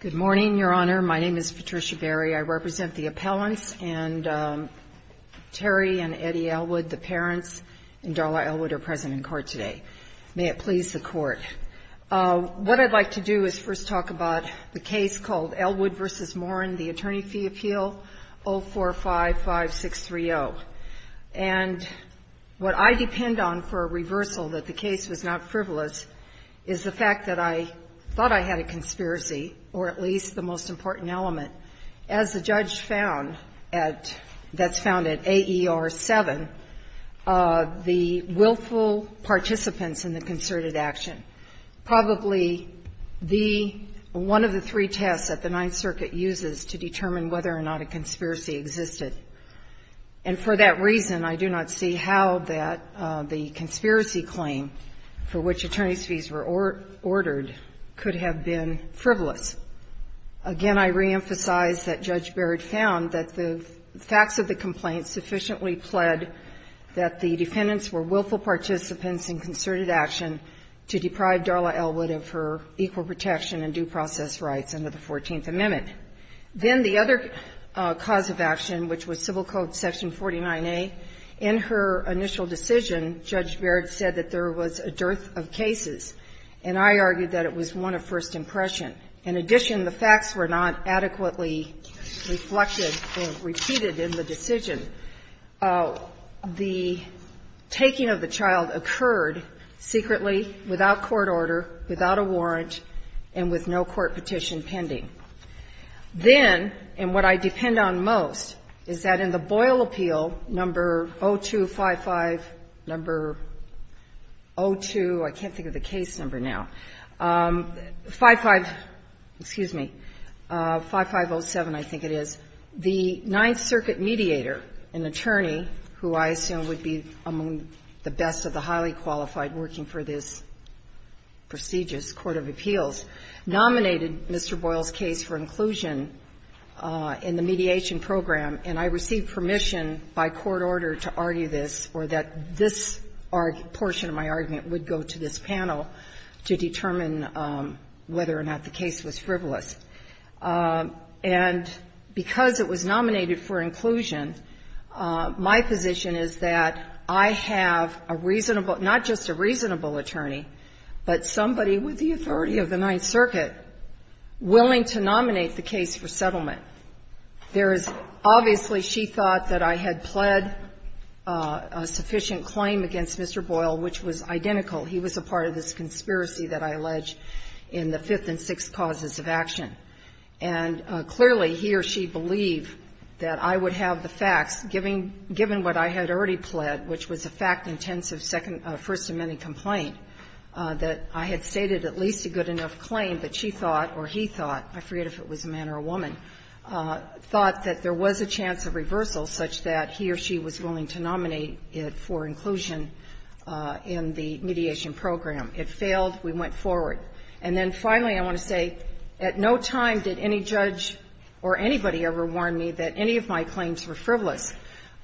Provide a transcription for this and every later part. Good morning, Your Honor. My name is Patricia Berry. I represent the appellants, and Terry and Eddie Elwood, the parents, and Darla Elwood are present in court today. May it please the court. What I'd like to do is first talk about the case called Elwood v. Morin, the Attorney Fee Appeal 0455630. And what I depend on for a reversal that the case was not frivolous is the fact that I thought I had a conspiracy, or at least the most important element, as the judge found that's found at AER7, the willful participants in the concerted action. Probably one of the three tests that the Ninth Circuit uses to determine whether or not a conspiracy existed. And for that reason, I do not see how that the conspiracy claim for which attorneys' fees were ordered could have been frivolous. Again, I reemphasize that Judge Barrett found that the facts of the complaint sufficiently pled that the defendants were willful participants in concerted action to deprive Darla Elwood of her equal protection and due process rights under the 14th Amendment. Then the other cause of action, which was Civil Code Section 49A, in her initial decision, Judge Barrett said that there was a dearth of cases, and I argued that it was one of first impression. In addition, the facts were not adequately reflected and repeated in the decision. The taking of the child occurred secretly, without court order, without a warrant, and with no court petition pending. Then, and what I depend on most, is that in the Boyle appeal, number 0255, number 02, I can't think of the case number now, 55, excuse me, 5507, I think it is, the Ninth Circuit mediator, an attorney who I assume would be among the best of the highly qualified working for this prestigious court of appeals, nominated Mr. Boyle's case for inclusion in the mediation program. And I received permission by court order to argue this, or that this portion of my argument would go to this panel to determine whether or not the case was frivolous. And because it was nominated for inclusion, my position is that I have a reasonable not just a reasonable attorney, but somebody with the authority of the Ninth Circuit willing to nominate the case for settlement. There is, obviously, she thought that I had pled a sufficient claim against Mr. Boyle, which was identical. He was a part of this conspiracy that I allege in the Fifth and Sixth causes of action. And clearly, he or she believed that I would have the facts, given what I had already pled, which was a fact-intensive First Amendment complaint, that I had stated at least a good enough claim that she thought or he thought, I forget if it was a man or a woman, thought that there was a chance of reversal such that he or she was willing to nominate it for inclusion in the mediation program. It failed. We went forward. And then finally, I want to say, at no time did any judge or anybody ever warn me that any of my claims were frivolous.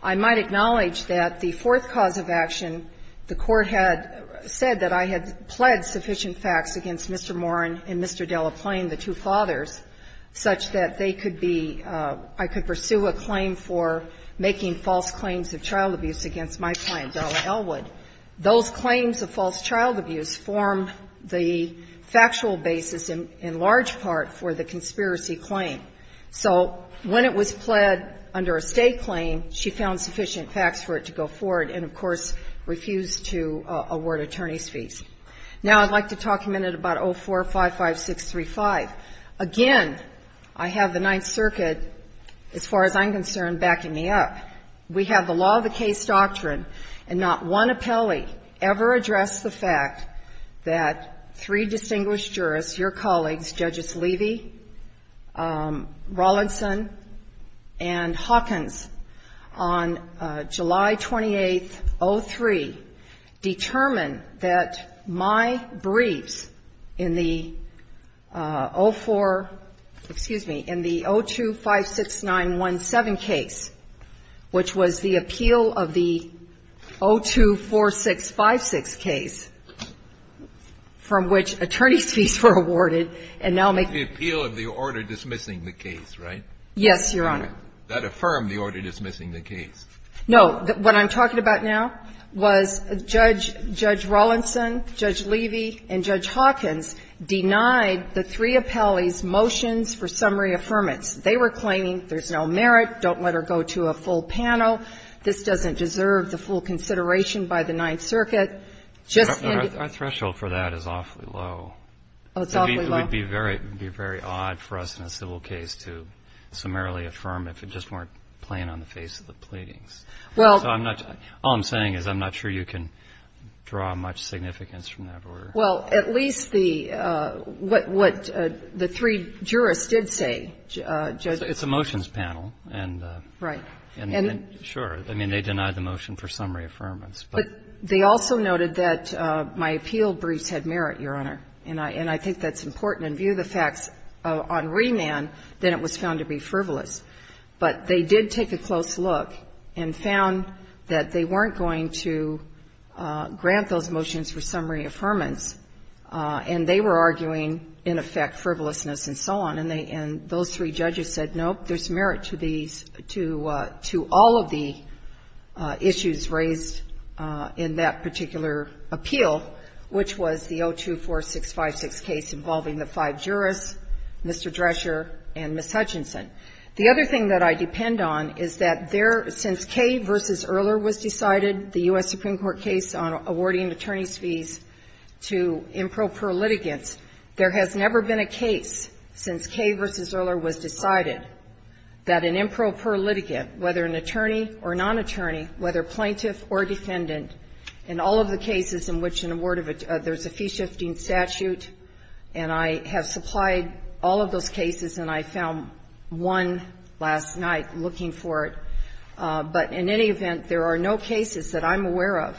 I might acknowledge that the fourth cause of action, the Court had said that I had pled sufficient facts against Mr. Moran and Mr. Delaplane, the two fathers, such that they could be ‑‑ I could pursue a claim for making false claims of child abuse against my client, Della Elwood. Those claims of false child abuse formed the factual basis in large part for the conspiracy claim. So when it was pled under a State claim, she found sufficient facts for it to go forward and, of course, refused to award attorney's fees. Now, I'd like to talk a minute about 0455635. Again, I have the Ninth Circuit, as far as I'm concerned, backing me up. We have the law of the case doctrine, and not one appellee ever addressed the fact that three distinguished jurists, your colleagues, Judges Levy, Rollinson and Hawkins, on July 28, 03, determined that my briefs in the opening of the case were awarded in the 0256917 case, which was the appeal of the 024656 case, from which attorney's fees were awarded, and now make the appeal of the order dismissing the case, right? Yes, Your Honor. That affirmed the order dismissing the case. No. What I'm talking about now was Judge Rollinson, Judge Levy and Judge Hawkins denied the three appellees' motions for summary affirmance. They were claiming there's no merit, don't let her go to a full panel, this doesn't deserve the full consideration by the Ninth Circuit. Just in the ---- Our threshold for that is awfully low. Oh, it's awfully low? It would be very odd for us in a civil case to summarily affirm if it just weren't plain on the face of the pleadings. Well, I'm not going to ---- all I'm saying is I'm not sure you can draw much significance from that order. Well, at least the ---- what the three jurists did say, Judge ---- It's a motions panel, and ---- Right. And then, sure, I mean, they denied the motion for summary affirmance. But they also noted that my appeal briefs had merit, Your Honor, and I think that's important, and view the facts on remand, that it was found to be frivolous. But they did take a close look and found that they weren't going to grant those motions for summary affirmance, and they were arguing, in effect, frivolousness and so on, and they ---- and those three judges said, nope, there's merit to these ---- to all of the issues raised in that particular appeal, which was the 024656 case involving the five jurists, Mr. Drescher and Ms. Hutchinson. The other thing that I depend on is that there, since Kay v. Erler was decided, the U.S. Supreme Court case on awarding attorney's fees to improper litigants, there has never been a case since Kay v. Erler was decided that an improper litigant, whether an attorney or non-attorney, whether plaintiff or defendant, in all of the cases in which an award of ---- there's a fee-shifting statute, and I have supplied all of those cases, and I found one last night looking for it. But in any event, there are no cases that I'm aware of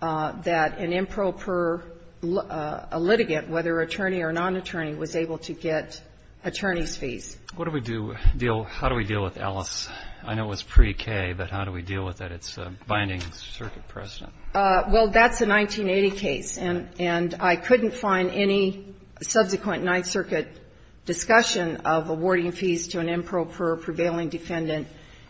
that an improper litigant, whether attorney or non-attorney, was able to get attorney's fees. What do we do ---- deal ---- how do we deal with Ellis? I know it was pre-Kay, but how do we deal with it? It's a binding circuit precedent. Well, that's a 1980 case, and I couldn't find any subsequent Ninth Circuit discussion of awarding fees to an improper, prevailing defendant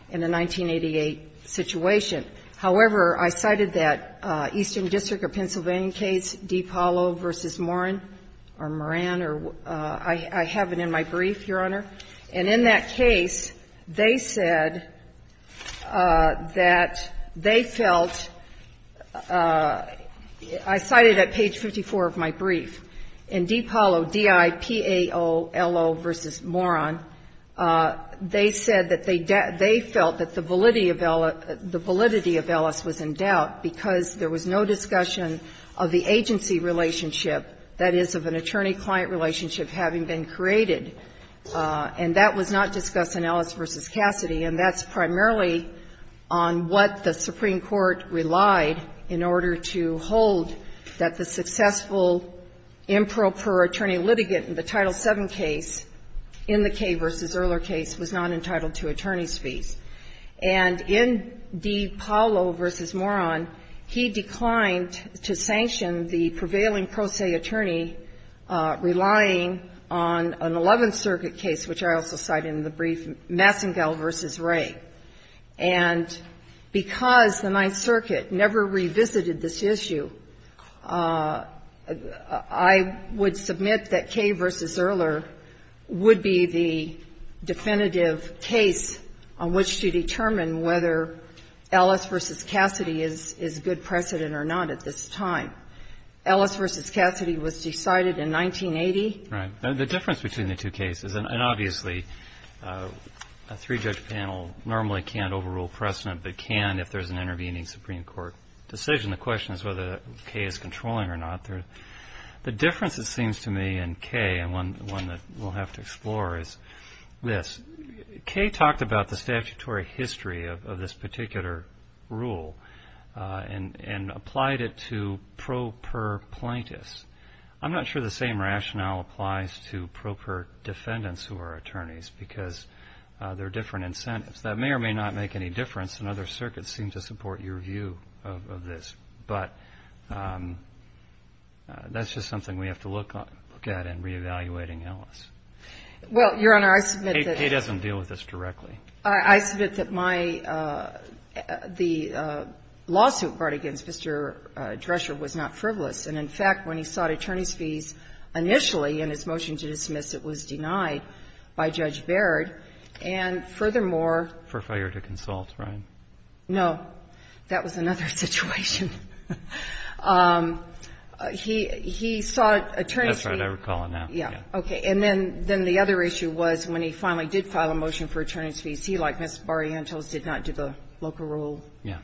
in the 1988 situation. However, I cited that Eastern District of Pennsylvania case, DiPaolo v. Moran, or Moran, or ---- I have it in my brief, Your Honor. And in that case, they said that they felt ---- I cited at page 54 of my brief, in DiPaolo, D-I-P-A-O-L-O v. Moran, they said that they felt that the validity of Ellis was in doubt because there was no discussion of the agency relationship, that is, of an attorney-client relationship having been created. And that was not discussed in Ellis v. Cassidy, and that's primarily on what the Supreme Court relied in order to hold that the successful improper attorney litigant in the Title VII case, in the Kay v. Erler case, was not entitled to attorney's fees. And in DiPaolo v. Moran, he declined to sanction the prevailing pro se attorney relying on an Eleventh Circuit case, which I also cite in the brief, Massengel v. Wray. And because the Ninth Circuit never revisited this issue, I would submit that Kay v. Erler would be the definitive case on which to determine whether Ellis v. Cassidy is good precedent or not at this time. Ellis v. Cassidy was decided in 1980. Right. The difference between the two cases, and obviously a three-judge panel normally can't overrule precedent, but can if there's an intervening Supreme Court decision. The question is whether Kay is controlling or not. The difference, it seems to me, in Kay, and one that we'll have to explore, is this. Kay talked about the statutory history of this particular rule and applied it to pro per plaintiffs. I'm not sure the same rationale applies to pro per defendants who are attorneys because they're different incentives. That may or may not make any difference, and other circuits seem to support your view of this. But that's just something we have to look at in reevaluating Ellis. Well, Your Honor, I submit that the lawsuit brought against Mr. Drescher was not the same case in which he sought attorney's fees initially in his motion to dismiss. It was denied by Judge Baird. And furthermore — For fire to consult, right? No. That was another situation. He sought attorney's fees. That's what I recall now. Okay. And then the other issue was when he finally did file a motion for attorney's fees, he, like Ms. Barrientos, did not do the local rule. Yeah.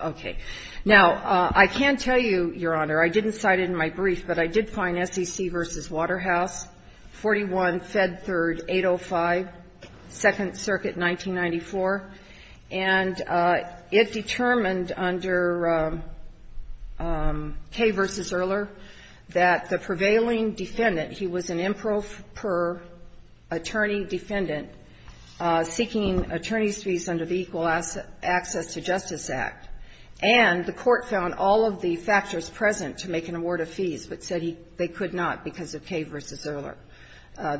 Okay. Now, I can tell you, Your Honor, I didn't cite it in my brief, but I did find SEC v. Waterhouse, 41 Fed 3, 805, Second Circuit, 1994, and it determined under Kay v. Earler that the prevailing defendant, he was an improper attorney defendant seeking attorney's fees under the Equal Access to Justice Act. And the Court found all of the factors present to make an award of fees, but said he — they could not because of Kay v. Earler.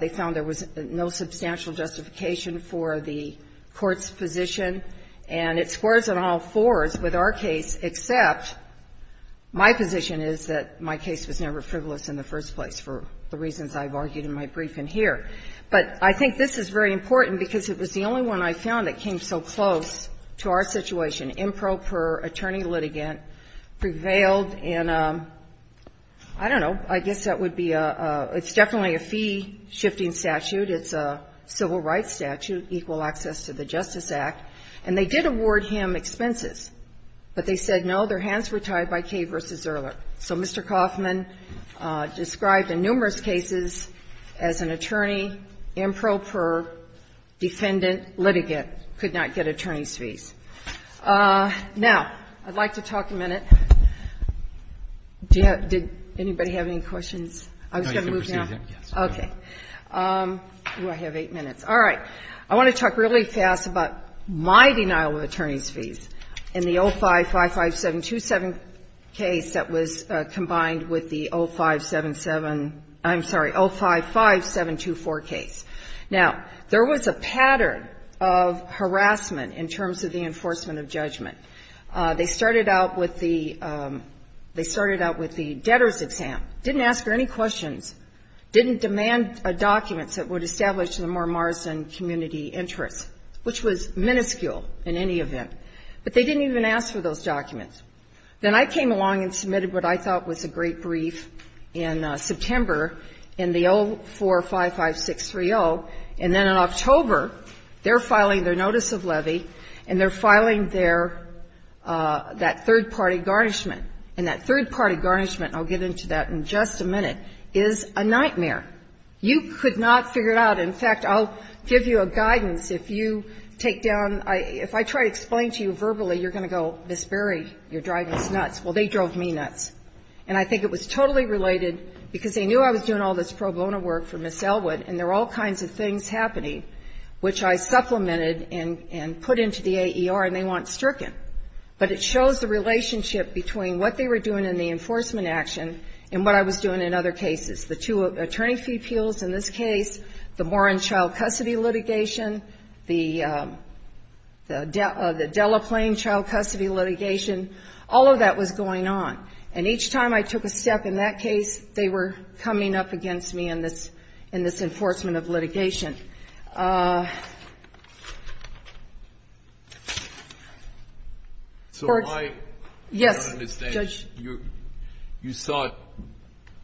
They found there was no substantial justification for the Court's position. And it squares on all fours with our case, except my position is that my case was never frivolous in the first place, for the reasons I've argued in my brief in here. But I think this is very important because it was the only one I found that came so close to our situation, improper attorney litigant prevailed in, I don't know, I guess that would be a — it's definitely a fee-shifting statute, it's a civil rights statute, Equal Access to the Justice Act, and they did award him expenses. But they said, no, their hands were tied by Kay v. Earler. So Mr. Kaufman described in numerous cases as an attorney, improper defendant litigant, could not get attorney's fees. Now, I'd like to talk a minute — did anybody have any questions? I was going to move now. Roberts. No, you can proceed, yes. Okay. Do I have eight minutes? All right. I want to talk really fast about my denial of attorney's fees in the 0555727 case that was combined with the 0577 — I'm sorry, 055724 case. Now, there was a pattern of harassment in terms of the enforcement of judgment. They started out with the — they started out with the debtor's exam, didn't ask her any questions, didn't demand documents that would establish the more Morrison community interest, which was minuscule in any event. But they didn't even ask for those documents. Then I came along and submitted what I thought was a great brief in September in the 0455630, and then in October, they're filing their notice of levy, and they're filing their — that third-party garnishment. And that third-party garnishment — I'll get into that in just a minute — is a nightmare. You could not figure it out. In fact, I'll give you a guidance. If you take down — if I try to explain to you verbally, you're going to go, Ms. Berry, you're driving us nuts. Well, they drove me nuts. And I think it was totally related, because they knew I was doing all this pro bono work for Ms. Elwood, and there were all kinds of things happening, which I supplemented and put into the AER, and they weren't stricken. But it shows the relationship between what they were doing in the enforcement action and what I was doing in other cases. The two attorney fee appeals in this case, the Warren child custody litigation, the Delaplaine child custody litigation, all of that was going on. And each time I took a step in that case, they were coming up against me in this — in this enforcement of litigation. So why — Yes, Judge. I don't understand. You sought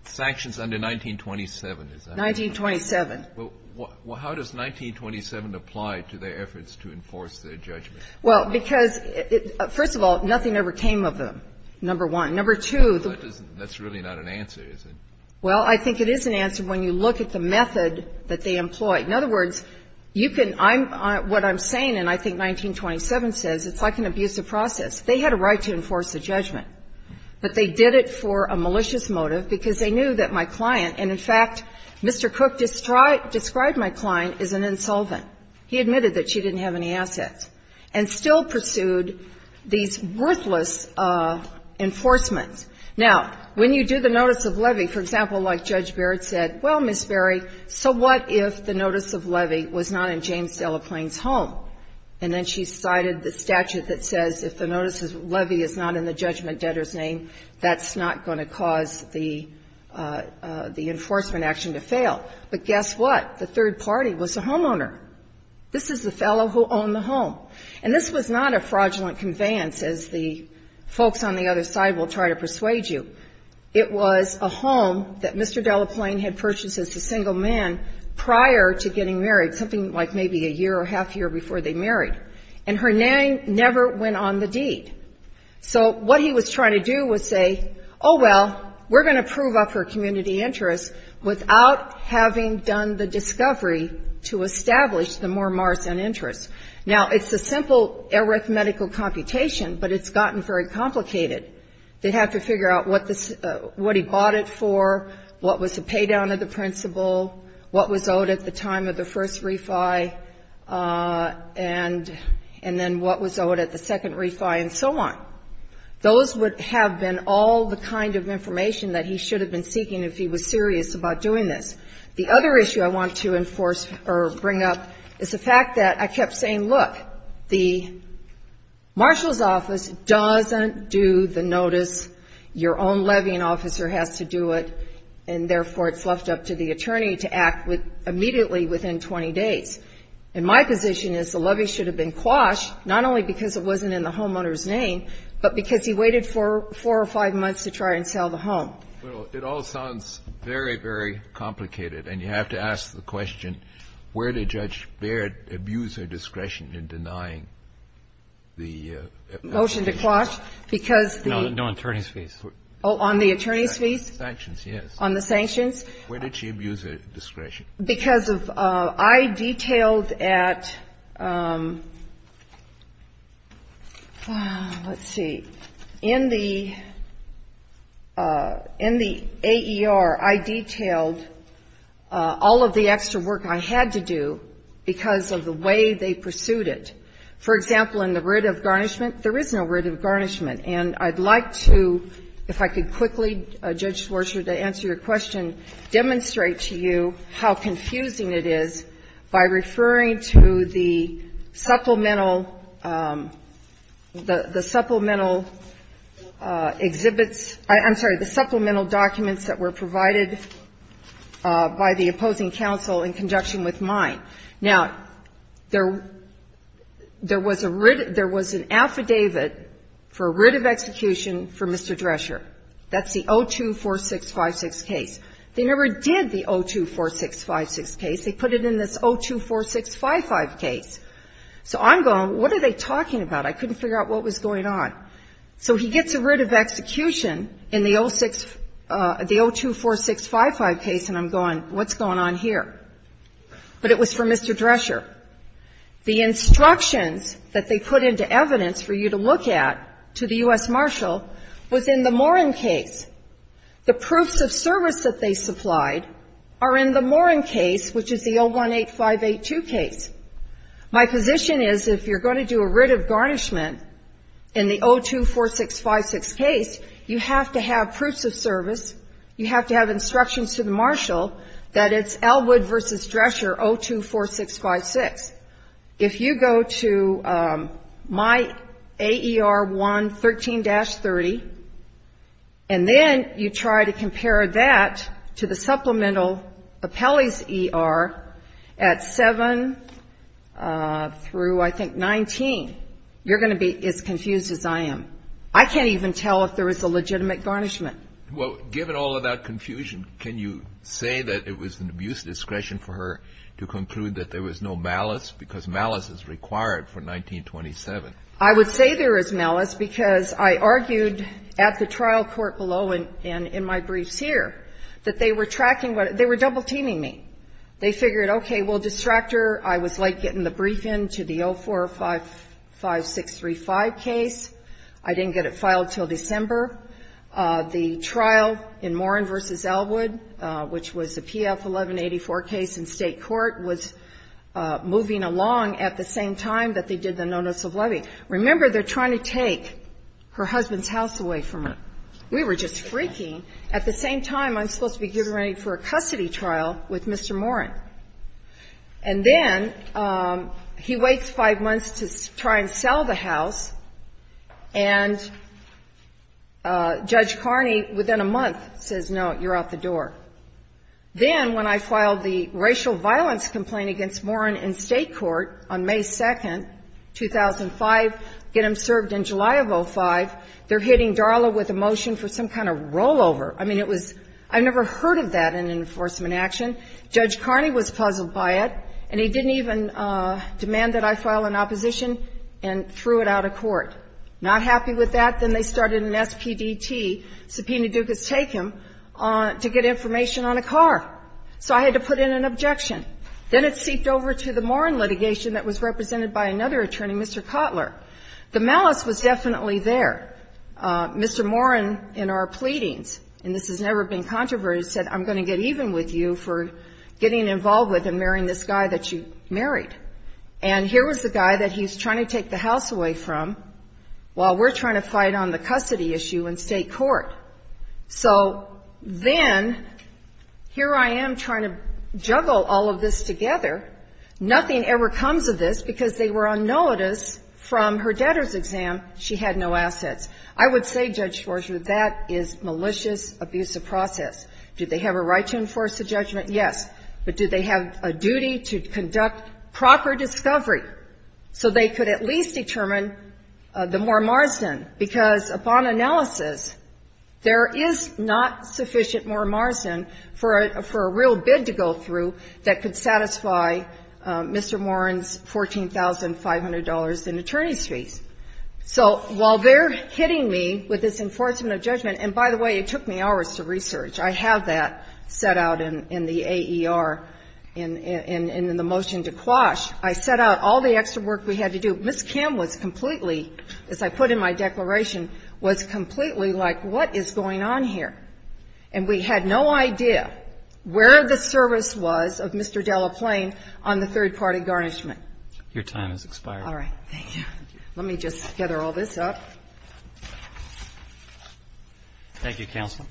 sanctions under 1927. Is that right? 1927. Well, how does 1927 apply to their efforts to enforce their judgment? Well, because, first of all, nothing ever came of them, number one. Number two, the — That's really not an answer, is it? Well, I think it is an answer when you look at the method that they employed. In other words, you can — I'm — what I'm saying, and I think 1927 says, it's like an abusive process. They had a right to enforce a judgment, but they did it for a malicious motive, because they knew that my client, and in fact, Mr. Cook described my client as an insolvent. He admitted that she didn't have any assets, and still pursued these worthless enforcement. Now, when you do the notice of levy, for example, like Judge Barrett said, well, Ms. Berry, so what if the notice of levy was not in James Delaplane's home? And then she cited the statute that says if the notice of levy is not in the judgment debtor's name, that's not going to cause the enforcement action to fail. But guess what? The third party was the homeowner. This is the fellow who owned the home. And this was not a fraudulent conveyance, as the folks on the other side will try to persuade you. It was a home that Mr. Delaplane had purchased as a single man prior to getting married, something like maybe a year or half year before they married. And her name never went on the deed. So what he was trying to do was say, oh, well, we're going to prove up her community interests without having done the discovery to establish the more Marsan interests. Now, it's a simple arithmetical computation, but it's gotten very complicated. They have to figure out what he bought it for, what was the pay down of the principal, what was owed at the time of the first refi, and then what was owed at the second refi, and so on. Those would have been all the kind of information that he should have been seeking if he was serious about doing this. The other issue I want to enforce or bring up is the fact that I kept saying, look, the marshal's office doesn't do the notice. Your own levying officer has to do it, and therefore it's left up to the attorney to act immediately within 20 days. And my position is the levy should have been quashed, not only because it wasn't in the homeowner's name, but because he waited for four or five months to try and sell the home. Kennedy. Well, it all sounds very, very complicated. And you have to ask the question, where did Judge Baird abuse her discretion in denying the appellate fees? Motion to quash because the No, no attorney's fees. Oh, on the attorney's fees? Sanctions, yes. On the sanctions? Where did she abuse her discretion? Because of — I detailed at — let's see. In the — in the AER, I detailed all of the extra work I had to do because of the way they pursued it. For example, in the writ of garnishment, there is no writ of garnishment. And I'd like to, if I could quickly, Judge Schwartz, to answer your question, demonstrate to you how confusing it is by referring to the supplemental — the supplemental exhibits — I'm sorry, the supplemental documents that were provided by the opposing counsel in conjunction with mine. Now, there was a writ — there was an affidavit for writ of execution for Mr. Drescher. That's the 024656 case. They never did the 024656 case. They put it in this 024655 case. So I'm going, what are they talking about? I couldn't figure out what was going on. So he gets a writ of execution in the 06 — the 024655 case, and I'm going, what's going on here? But it was for Mr. Drescher. The instructions that they put into evidence for you to look at to the U.S. Marshal was in the Morin case. The proofs of service that they supplied are in the Morin case, which is the 018582 case. My position is, if you're going to do a writ of garnishment in the 024656 case, you have to have proofs of service, you have to have instructions to the Marshal that it's Elwood versus Drescher 024656. If you go to my AER 113-30, and then you try to compare that to the supplemental appellee's ER at 7 through, I think, 19, you're going to be as confused as I am. I can't even tell if there was a legitimate garnishment. Well, given all of that confusion, can you say that it was an abuse of discretion for her to conclude that there was no malice, because malice is required for 1927? I would say there is malice, because I argued at the trial court below and in my case, they were double-teaming me. They figured, okay, well, Distractor, I was late getting the brief in to the 0455635 case. I didn't get it filed until December. The trial in Morin v. Elwood, which was a PF 1184 case in State court, was moving along at the same time that they did the no-notice of levy. Remember, they're trying to take her husband's house away from her. We were just freaking. At the same time, I'm supposed to be getting ready for a custody trial with Mr. Morin. And then he waits five months to try and sell the house, and Judge Carney, within a month, says, no, you're out the door. Then when I filed the racial violence complaint against Morin in State court on May 2nd, 2005, get him served in July of 05, they're hitting Darla with a motion for some kind of rollover. I mean, it was – I never heard of that in enforcement action. Judge Carney was puzzled by it, and he didn't even demand that I file an opposition and threw it out of court. Not happy with that, then they started an SPDT, subpoena ducas take him, to get information on a car. So I had to put in an objection. Then it seeped over to the Morin litigation that was represented by another attorney, Mr. Kotler. The malice was definitely there. Mr. Morin, in our pleadings, and this has never been controverted, said, I'm going to get even with you for getting involved with and marrying this guy that you married. And here was the guy that he's trying to take the house away from while we're trying to fight on the custody issue in State court. So then, here I am trying to juggle all of this together. Nothing ever comes of this, because they were on notice from her debtors' exam, she had no assets. I would say, Judge Schwarzer, that is malicious abuse of process. Do they have a right to enforce a judgment? Yes. But do they have a duty to conduct proper discovery so they could at least determine the Moore-Marsden? Because upon analysis, there is not sufficient Moore-Marsden for a real bid to go through that could satisfy Mr. Morin's $14,500 in attorney's fees. So while they're hitting me with this enforcement of judgment, and by the way, it took me hours to research, I have that set out in the AER, in the motion to Quash, I set out all the extra work we had to do. Ms. Kim was completely, as I put in my declaration, was completely like, what is going on here? And we had no idea where the service was of Mr. Delaplein on the third-party Your time has expired. All right. Thank you. Let me just gather all this up. Thank you, Counsel.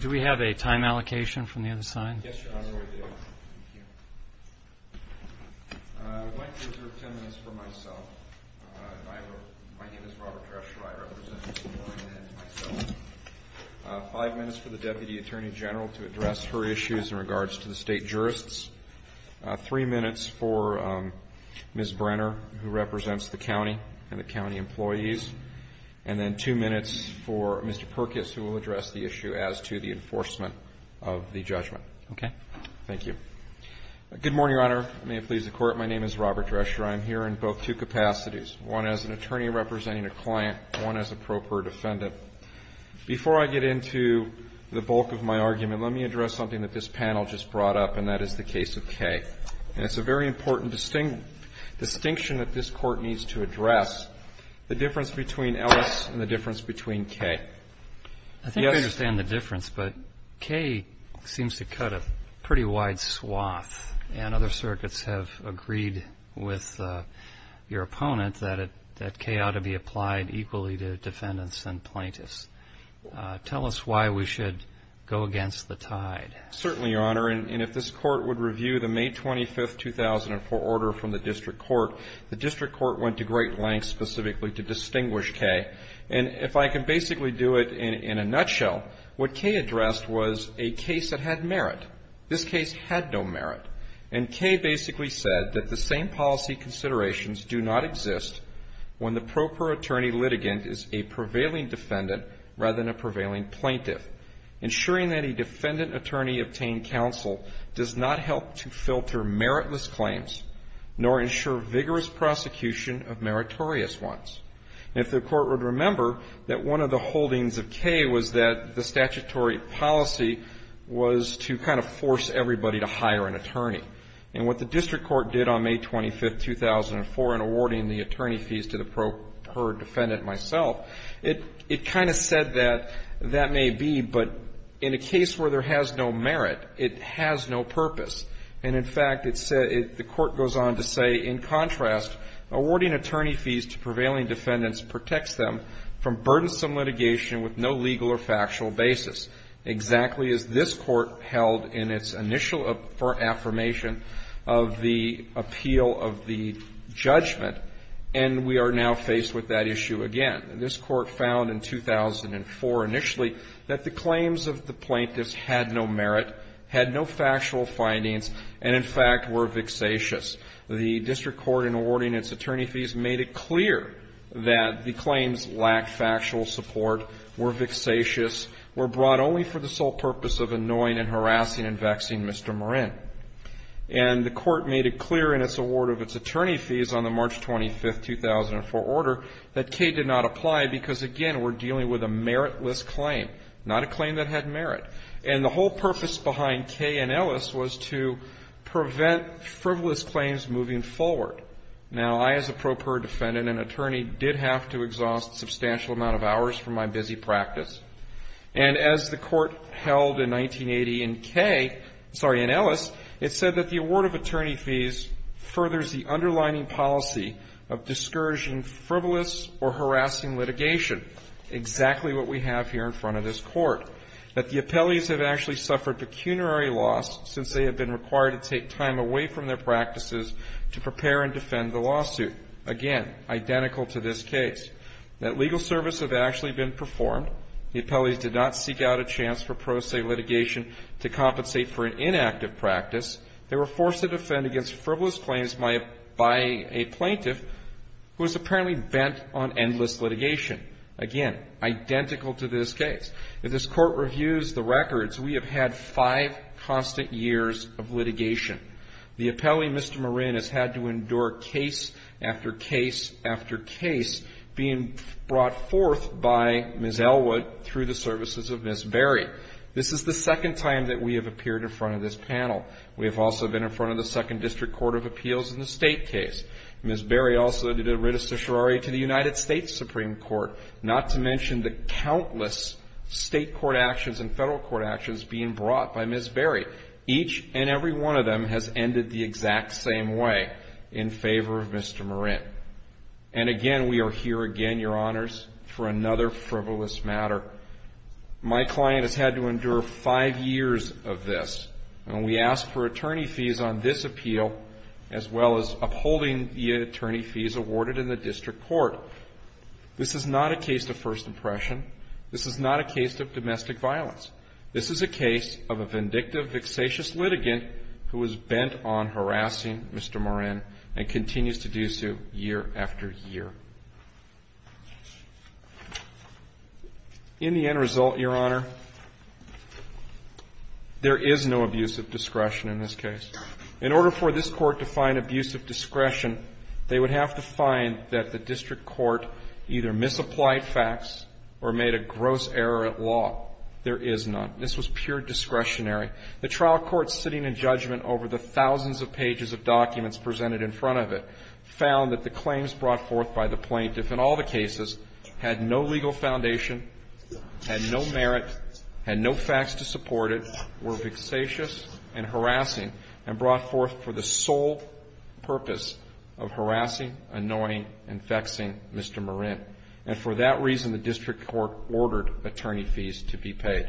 Do we have a time allocation from the other side? Yes, Your Honor, we do. Thank you. I'd like to reserve 10 minutes for myself. My name is Robert Treasurer, I represent Mr. Morin and myself. Five minutes for the Deputy Attorney General to address her issues in regards to the state jurists. Three minutes for Ms. Brenner, who represents the county and the county employees. And then two minutes for Mr. Perkins, who will address the issue as to the enforcement of the judgment. Okay. Thank you. Good morning, Your Honor. May it please the Court. My name is Robert Treasurer. I am here in both two capacities, one as an attorney representing a client, one as Before I get into the bulk of my argument, let me address something that this panel just brought up, and that is the case of Kay. And it's a very important distinction that this court needs to address, the difference between Ellis and the difference between Kay. I think I understand the difference, but Kay seems to cut a pretty wide swath, and other circuits have agreed with your opponent that Kay ought to be applied equally to defendants and plaintiffs. Tell us why we should go against the tide. Certainly, Your Honor. And if this court would review the May 25, 2004 order from the district court, the district court went to great lengths specifically to distinguish Kay. And if I can basically do it in a nutshell, what Kay addressed was a case that had merit. This case had no merit. And Kay basically said that the same policy considerations do not exist when the proper attorney litigant is a prevailing defendant rather than a prevailing plaintiff. Ensuring that a defendant attorney obtained counsel does not help to filter meritless claims nor ensure vigorous prosecution of meritorious ones. If the court would remember that one of the holdings of Kay was that the statutory policy was to kind of force everybody to hire an attorney. And what the district court did on May 25, 2004 in awarding the attorney fees to the That may be, but in a case where there has no merit, it has no purpose. And, in fact, it said the court goes on to say, in contrast, awarding attorney fees to prevailing defendants protects them from burdensome litigation with no legal or factual basis, exactly as this court held in its initial affirmation of the appeal of the judgment, and we are now faced with that issue again. This court found in 2004 initially that the claims of the plaintiffs had no merit, had no factual findings, and, in fact, were vexatious. The district court in awarding its attorney fees made it clear that the claims lacked factual support, were vexatious, were brought only for the sole purpose of annoying and harassing and vexing Mr. Marin. And the court made it clear in its award of its attorney fees on the March 25, 2004 order that K did not apply because, again, we're dealing with a meritless claim, not a claim that had merit. And the whole purpose behind K and Ellis was to prevent frivolous claims moving forward. Now, I, as a pro per defendant and attorney, did have to exhaust a substantial amount of hours from my busy practice. And as the court held in 1980 in K, sorry, in Ellis, it said that the award of attorney fees was either frivolous or harassing litigation, exactly what we have here in front of this court. That the appellees have actually suffered pecuniary loss since they have been required to take time away from their practices to prepare and defend the lawsuit. Again, identical to this case. That legal service have actually been performed. The appellees did not seek out a chance for pro se litigation to compensate for an inactive practice. They were forced to defend against frivolous claims by a plaintiff who was apparently bent on endless litigation. Again, identical to this case. If this court reviews the records, we have had five constant years of litigation. The appellee, Mr. Marin, has had to endure case after case after case being brought forth by Ms. Elwood through the services of Ms. Berry. This is the second time that we have appeared in front of this panel. We have also been in front of the Second District Court of Appeals in the state case. Ms. Berry also did a writ of certiorari to the United States Supreme Court. Not to mention the countless state court actions and federal court actions being brought by Ms. Berry. Each and every one of them has ended the exact same way in favor of Mr. Marin. And again, we are here again, your honors, for another frivolous matter. My client has had to endure five years of this. And we ask for attorney fees on this appeal as well as upholding the attorney fees awarded in the district court. This is not a case of first impression. This is not a case of domestic violence. This is a case of a vindictive, vexatious litigant who is bent on harassing Mr. Marin and continues to do so year after year. In the end result, your honor, there is no abuse of discretion in this case. In order for this court to find abuse of discretion, they would have to find that the district court either misapplied facts or made a gross error at law. There is none. This was pure discretionary. The trial court sitting in judgment over the thousands of pages of documents of the plaintiff in all the cases had no legal foundation, had no merit, had no facts to support it, were vexatious and harassing, and brought forth for the sole purpose of harassing, annoying, and vexing Mr. Marin. And for that reason, the district court ordered attorney fees to be paid.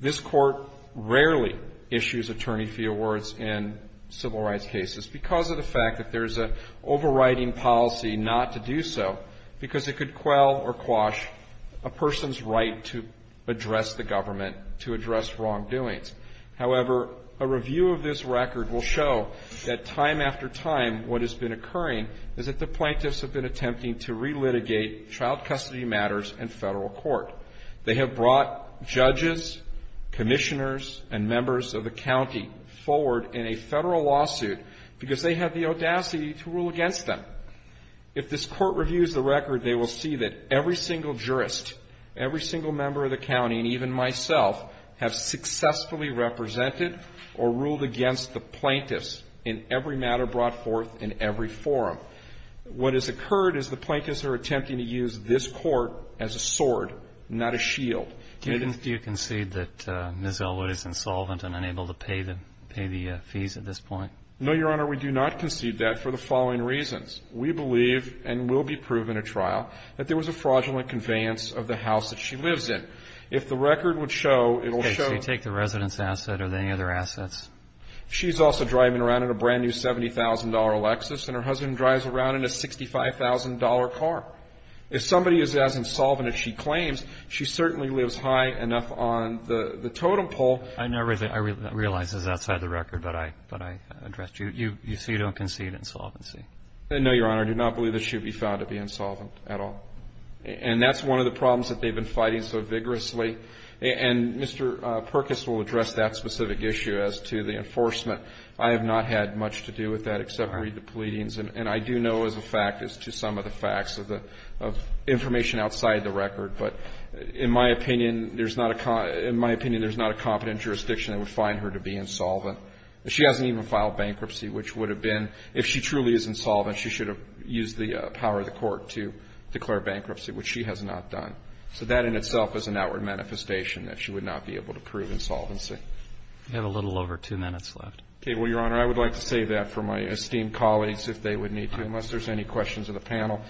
This court rarely issues attorney fee awards in civil rights cases because of the fact that there's an overriding policy not to do so, because it could quell or quash a person's right to address the government, to address wrongdoings. However, a review of this record will show that time after time, what has been occurring is that the plaintiffs have been attempting to relitigate child custody matters in federal court. They have brought judges, commissioners, and because they have the audacity to rule against them. If this court reviews the record, they will see that every single jurist, every single member of the county, and even myself, have successfully represented or ruled against the plaintiffs in every matter brought forth in every forum. What has occurred is the plaintiffs are attempting to use this court as a sword, not a shield. Do you concede that Ms. Elwood is insolvent and unable to pay the fees at this point? No, Your Honor, we do not concede that for the following reasons. We believe, and will be proven at trial, that there was a fraudulent conveyance of the house that she lives in. If the record would show, it will show that the residents' asset or any other assets. She's also driving around in a brand-new $70,000 Lexus, and her husband drives around in a $65,000 car. If somebody is as insolvent as she claims, she certainly lives high enough on the totem pole. I realize this is outside the record, but I addressed you. You say you don't concede insolvency. No, Your Honor. I do not believe that she would be found to be insolvent at all. And that's one of the problems that they've been fighting so vigorously. And Mr. Perkins will address that specific issue as to the enforcement. I have not had much to do with that except read the pleadings. And I do know as a fact, as to some of the facts of the information outside the record, but in my opinion, there's not a competent jurisdiction that would find her to be insolvent. She hasn't even filed bankruptcy, which would have been, if she truly is insolvent, she should have used the power of the court to declare bankruptcy, which she has not done. So that in itself is an outward manifestation that she would not be able to prove insolvency. You have a little over two minutes left. Okay. Well, Your Honor, I would like to save that for my esteemed colleagues if they would need to, unless there's any questions of the panel.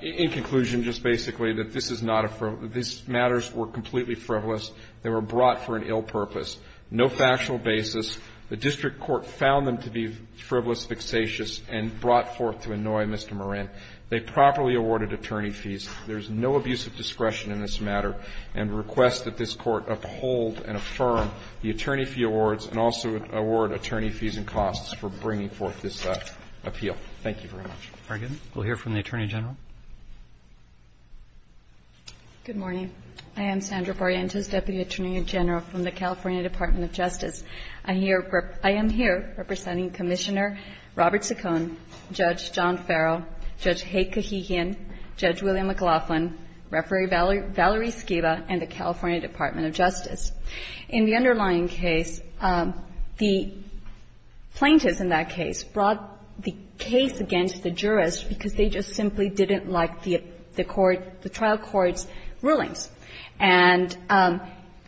In conclusion, just basically, that this is not a frivolous – these matters were completely frivolous. They were brought for an ill purpose, no factual basis. The district court found them to be frivolous, vexatious, and brought forth to annoy Mr. Moran. They properly awarded attorney fees. There's no abuse of discretion in this matter, and request that this Court uphold and affirm the attorney fee awards and also award attorney fees and costs for bringing forth this appeal. Thank you very much. Roberts, we'll hear from the Attorney General. Good morning. I am Sandra Barrientos, Deputy Attorney General from the California Department of Justice. I hear – I am here representing Commissioner Robert Saccone, Judge John Farrell, Judge Haye Kahihian, Judge William McLaughlin, Referee Valerie Skiba, and the California Department of Justice. In the underlying case, the plaintiffs in that case brought the case against the jury because they just simply didn't like the court – the trial court's rulings. And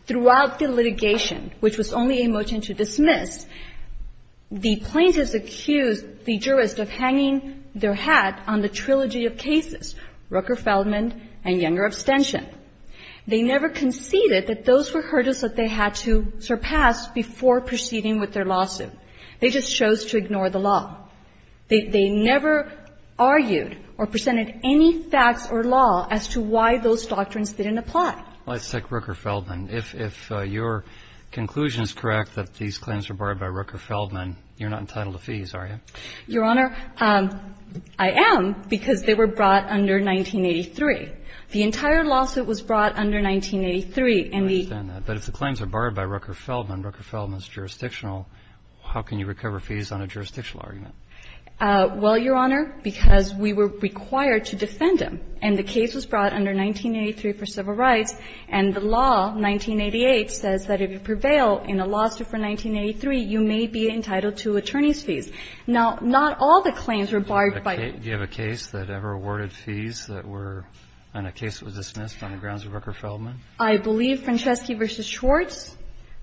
throughout the litigation, which was only a motion to dismiss, the plaintiffs accused the jurist of hanging their hat on the trilogy of cases, Rooker-Feldman and Younger abstention. They never conceded that those were hurdles that they had to surpass before proceeding with their lawsuit. They just chose to ignore the law. They never argued or presented any facts or law as to why those doctrines didn't apply. Well, let's take Rooker-Feldman. If your conclusion is correct that these claims were borrowed by Rooker-Feldman, you're not entitled to fees, are you? Your Honor, I am because they were brought under 1983. The entire lawsuit was brought under 1983, and the – I understand that. But if the claims are borrowed by Rooker-Feldman, Rooker-Feldman's jurisdictional, how can you recover fees on a jurisdictional argument? Well, Your Honor, because we were required to defend him. And the case was brought under 1983 for civil rights, and the law, 1988, says that if you prevail in a lawsuit for 1983, you may be entitled to attorney's fees. Now, not all the claims were borrowed by – Do you have a case that ever awarded fees that were – on a case that was dismissed on the grounds of Rooker-Feldman? I believe Franceschi v. Schwartz.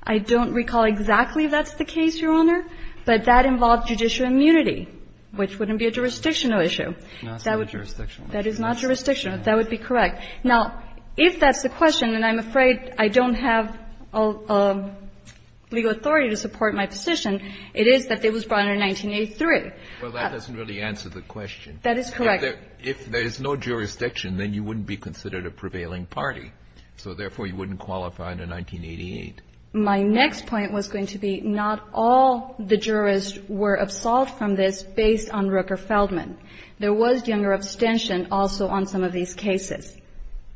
I don't recall exactly if that's the case, Your Honor, but that involved judicial immunity, which wouldn't be a jurisdictional issue. That would be – Not a jurisdictional issue. That is not jurisdictional. That would be correct. Now, if that's the question, and I'm afraid I don't have legal authority to support my position, it is that it was brought under 1983. Well, that doesn't really answer the question. That is correct. If there is no jurisdiction, then you wouldn't be considered a prevailing party. So therefore, you wouldn't qualify under 1988. My next point was going to be not all the jurists were absolved from this based on Rooker-Feldman. There was younger abstention also on some of these cases.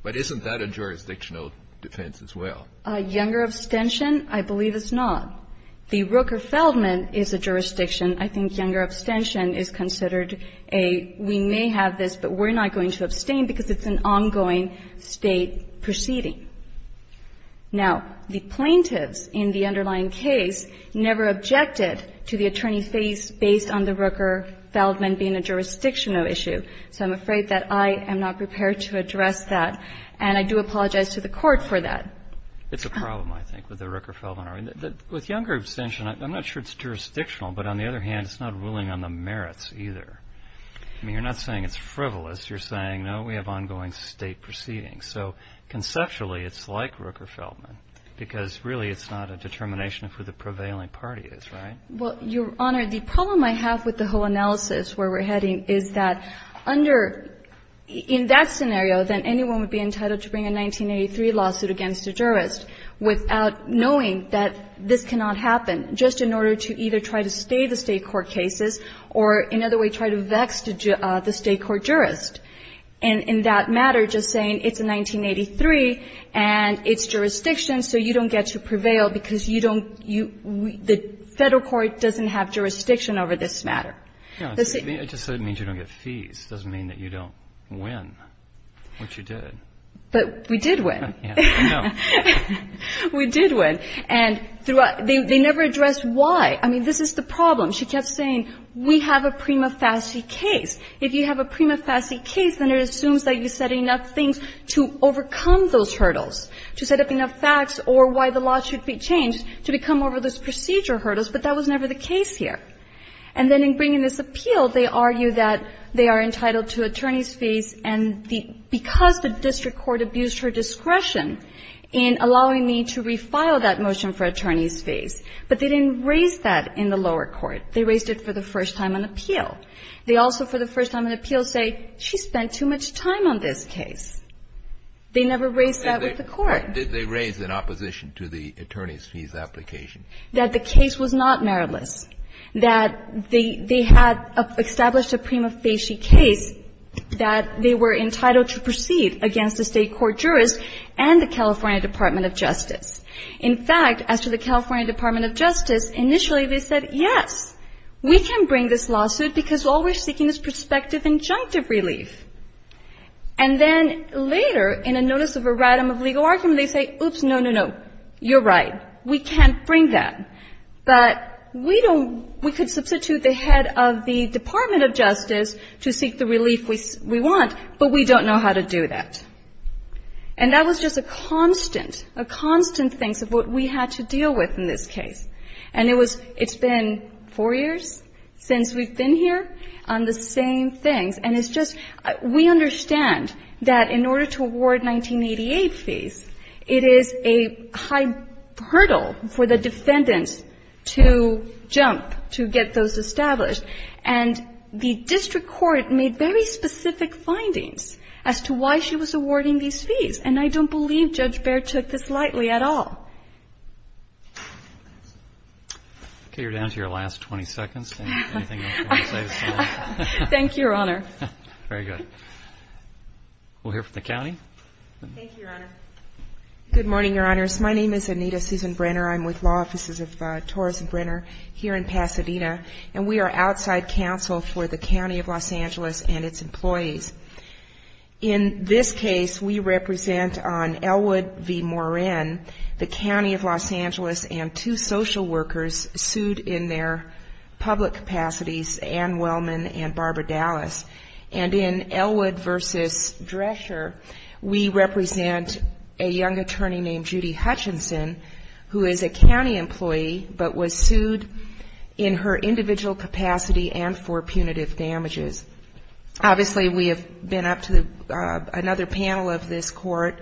But isn't that a jurisdictional defense as well? Younger abstention, I believe it's not. The Rooker-Feldman is a jurisdiction. I think younger abstention is considered a, we may have this, but we're not going to abstain because it's an ongoing State proceeding. Now, the plaintiffs in the underlying case never objected to the attorney's base based on the Rooker-Feldman being a jurisdictional issue. So I'm afraid that I am not prepared to address that. And I do apologize to the Court for that. It's a problem, I think, with the Rooker-Feldman. With younger abstention, I'm not sure it's jurisdictional, but on the other hand, it's not ruling on the merits either. I mean, you're not saying it's frivolous. You're saying, no, we have ongoing State proceedings. So conceptually, it's like Rooker-Feldman, because really it's not a determination of who the prevailing party is, right? Well, Your Honor, the problem I have with the whole analysis where we're heading is that under, in that scenario, then anyone would be entitled to bring a 1983 lawsuit against a jurist without knowing that this cannot happen, just in order to either try to stay the State court cases or in another way try to vex the State court jurist. And in that matter, just saying it's a 1983 and it's jurisdiction, so you don't get to prevail because you don't you the Federal court doesn't have jurisdiction over this matter. The State court jurist doesn't get to prevail because you don't you the Federal court doesn't have jurisdiction over this matter. We did win. And throughout, they never addressed why. I mean, this is the problem. She kept saying, we have a prima facie case. If you have a prima facie case, then it assumes that you said enough things to overcome those hurdles, to set up enough facts or why the law should be changed to become over those procedure hurdles, but that was never the case here. And then in bringing this appeal, they argue that they are entitled to attorney's fees, and because the district court abused her discretion in allowing me to refile that motion for attorney's fees, but they didn't raise that in the lower court. They raised it for the first time on appeal. They also, for the first time on appeal, say, she spent too much time on this case. They never raised that with the court. Kennedy, what did they raise in opposition to the attorney's fees application? That the case was not meritless, that they had established a prima facie case, that they were entitled to proceed against the State court jurist and the California Department of Justice. In fact, as to the California Department of Justice, initially they said, yes, we can bring this lawsuit because all we're seeking is prospective injunctive relief. And then later, in a notice of a rhatm of legal argument, they say, oops, no, no, no, you're right, we can't bring that. But we don't we could substitute the head of the Department of Justice to seek the relief we want, but we don't know how to do that. And that was just a constant, a constant thing of what we had to deal with in this case. And it was – it's been four years since we've been here on the same things. And it's just – we understand that in order to award 1988 fees, it is a high hurdle for the defendants to jump to get those established. And the district court made very specific findings as to why she was awarding these fees, and I don't believe Judge Behr took this lightly at all. Okay, you're down to your last 20 seconds. Anything else you want to say to this audience? Thank you, Your Honor. Very good. We'll hear from the county. Thank you, Your Honor. Good morning, Your Honors. My name is Anita Susan Brenner. I'm with law offices of Torres & Brenner here in Pasadena, and we are outside counsel for the County of Los Angeles and its employees. In this case, we represent on Elwood v. Moran, the County of Los Angeles and two social workers sued in their public capacities, Ann Wellman and Barbara Dallas. And in Elwood v. Drescher, we represent a young attorney named Judy Hutchinson, who is a county employee but was sued in her individual capacity and for punitive damages. Obviously, we have been up to another panel of this court,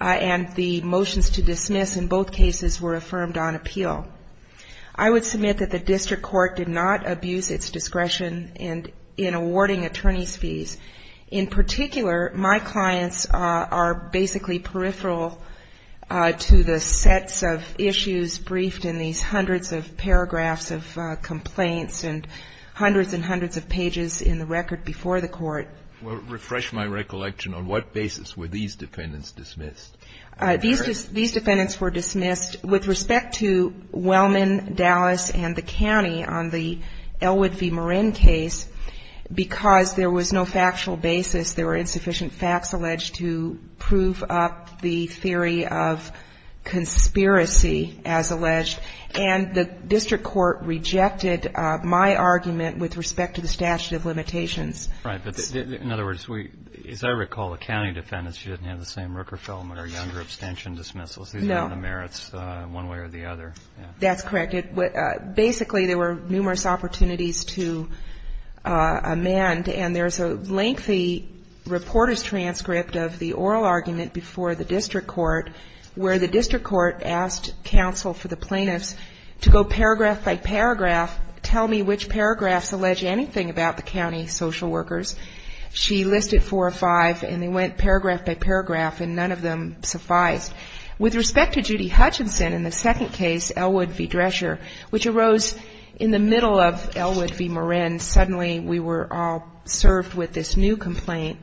and the motions to dismiss in both cases were affirmed on appeal. I would submit that the district court did not abuse its discretion in awarding attorney's fees. In particular, my clients are basically peripheral to the sets of issues briefed in these hundreds of paragraphs of complaints and hundreds and hundreds of records before the court. Well, refresh my recollection. On what basis were these defendants dismissed? These defendants were dismissed with respect to Wellman, Dallas, and the county on the Elwood v. Moran case because there was no factual basis. There were insufficient facts alleged to prove up the theory of conspiracy, as alleged, and the district court rejected my argument with respect to the statute of limitations. Right. But in other words, as I recall, the county defendants, you didn't have the same Rooker-Feldman or Younger abstention dismissals. No. These were on the merits one way or the other. That's correct. Basically, there were numerous opportunities to amend, and there's a lengthy reporter's transcript of the oral argument before the district court where the district court asked counsel for the plaintiffs to go paragraph by paragraph, tell me which paragraphs allege anything about the county social workers. She listed four or five, and they went paragraph by paragraph, and none of them sufficed. With respect to Judy Hutchinson in the second case, Elwood v. Drescher, which arose in the middle of Elwood v. Moran, suddenly we were all served with this new complaint,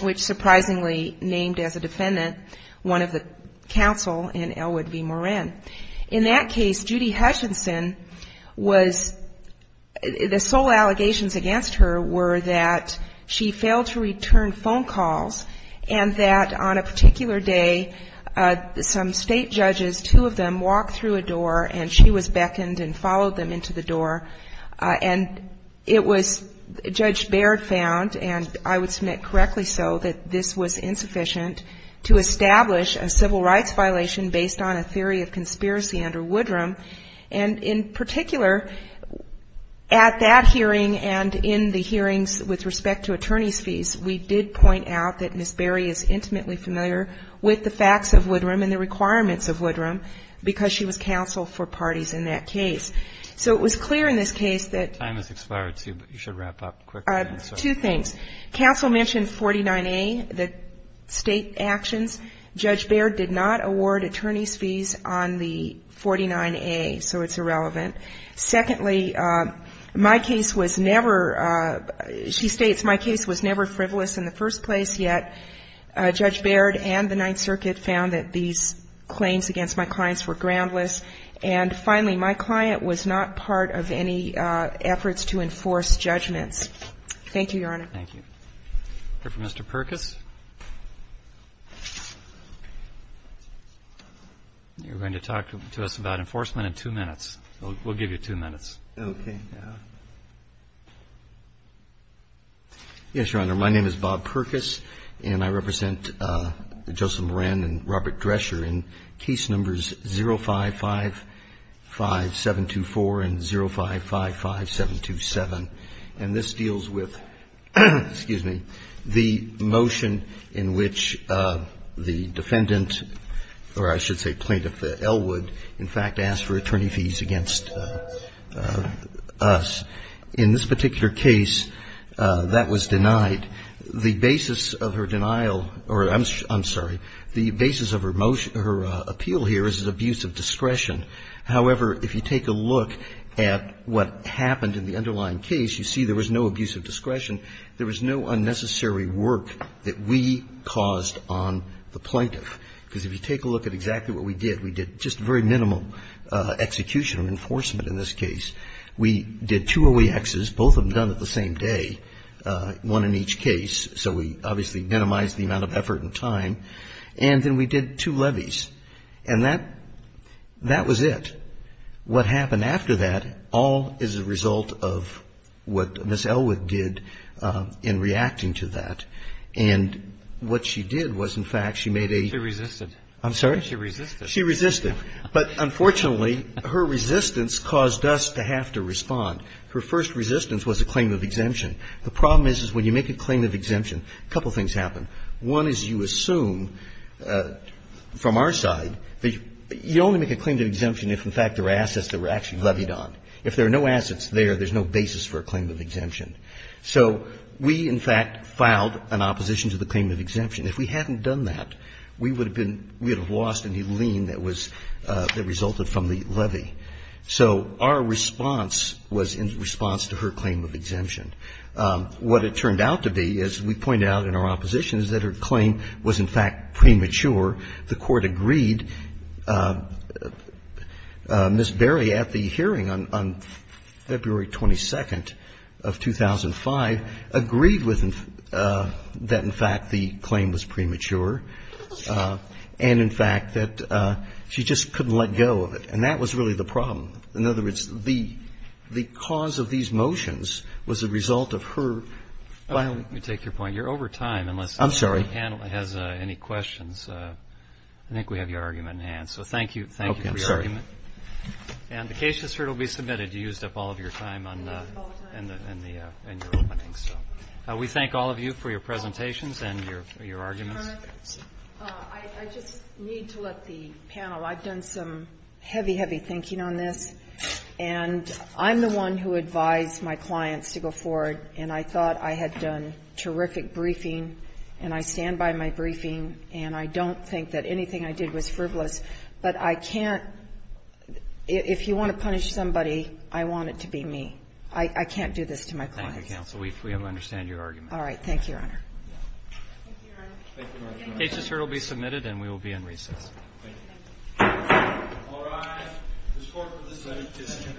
which surprisingly named as a defendant one of the counsel in Elwood v. Moran. In that case, Judy Hutchinson was, the sole allegations against her were that she failed to return phone calls, and that on a particular day, some state judges, two of them, walked through a door, and she was beckoned and followed them into the door, and it was, Judge Baird found, and I would submit correctly so, that this was insufficient to establish a civil rights violation based on a theory of conspiracy under Woodrum, and in particular, at that hearing and in the hearings with respect to attorney's fees, we did point out that Ms. Baird is intimately familiar with the facts of Woodrum and the requirements of Woodrum, because she was counsel for parties in that case. So it was clear in this case that Time has expired, too, but you should wrap up quickly. Two things. Counsel mentioned 49A, the state actions. Judge Baird did not award attorney's fees on the 49A, so it's irrelevant. Secondly, my case was never, she states, my case was never frivolous in the first place, yet Judge Baird and the Ninth Circuit found that these claims against my clients were groundless, and finally, my client was not part of any efforts to enforce judgments. Thank you, Your Honor. Thank you. Mr. Perkis. You're going to talk to us about enforcement in two minutes. We'll give you two minutes. Okay. Yes, Your Honor. My name is Bob Perkis, and I represent Justice Moran and Robert Drescher in case numbers 0555724 and 0555727, and this deals with the motion in which the defendant, or I should say plaintiff, Ellwood, in fact, asked for attorney fees against us. In this particular case, that was denied. The basis of her denial, or I'm sorry, the basis of her appeal here is abuse of discretion. However, if you take a look at what happened in the underlying case, you see there was no abuse of discretion, there was no unnecessary work that we caused on the plaintiff. Because if you take a look at exactly what we did, we did just a very minimal execution of enforcement in this case. We did two OEXs, both of them done at the same day, one in each case, so we obviously minimized the amount of effort and time, and then we did two levies. And that was it. What happened after that all is a result of what Ms. Ellwood did in reacting to that, and what she did was, in fact, she made a ---- Roberts. She resisted. I'm sorry? She resisted. She resisted. But unfortunately, her resistance caused us to have to respond. Her first resistance was a claim of exemption. The problem is, is when you make a claim of exemption, a couple of things happen. One is you assume, from our side, that you only make a claim of exemption if, in fact, there are assets that were actually levied on. If there are no assets there, there's no basis for a claim of exemption. So we, in fact, filed an opposition to the claim of exemption. If we hadn't done that, we would have been ---- we would have lost any lien that was ---- that resulted from the levy. So our response was in response to her claim of exemption. What it turned out to be, as we pointed out in our opposition, is that her claim was, in fact, premature. The Court agreed. Ms. Berry, at the hearing on February 22nd of 2005, agreed with them that, in fact, the claim was premature and, in fact, that she just couldn't let go of it. And that was really the problem. In other words, the cause of these motions was a result of her filing. Let me take your point. You're over time, unless the panel has any questions. I think we have your argument in hand. So thank you for your argument. Okay. I'm sorry. And the case just heard will be submitted. You used up all of your time on the opening, so we thank all of you for your presentations and your arguments. Your Honor, I just need to let the panel. I've done some heavy, heavy thinking on this. And I'm the one who advised my clients to go forward, and I thought I had done terrific briefing, and I stand by my briefing, and I don't think that anything I did was frivolous. But I can't – if you want to punish somebody, I want it to be me. I can't do this to my clients. Thank you, counsel. We understand your argument. All right. Thank you, Your Honor. Thank you, Your Honor. The case just heard will be submitted, and we will be in recess. Thank you. Thank you. All rise. The court will decide the case. Thank you, Your Honor. Thank you.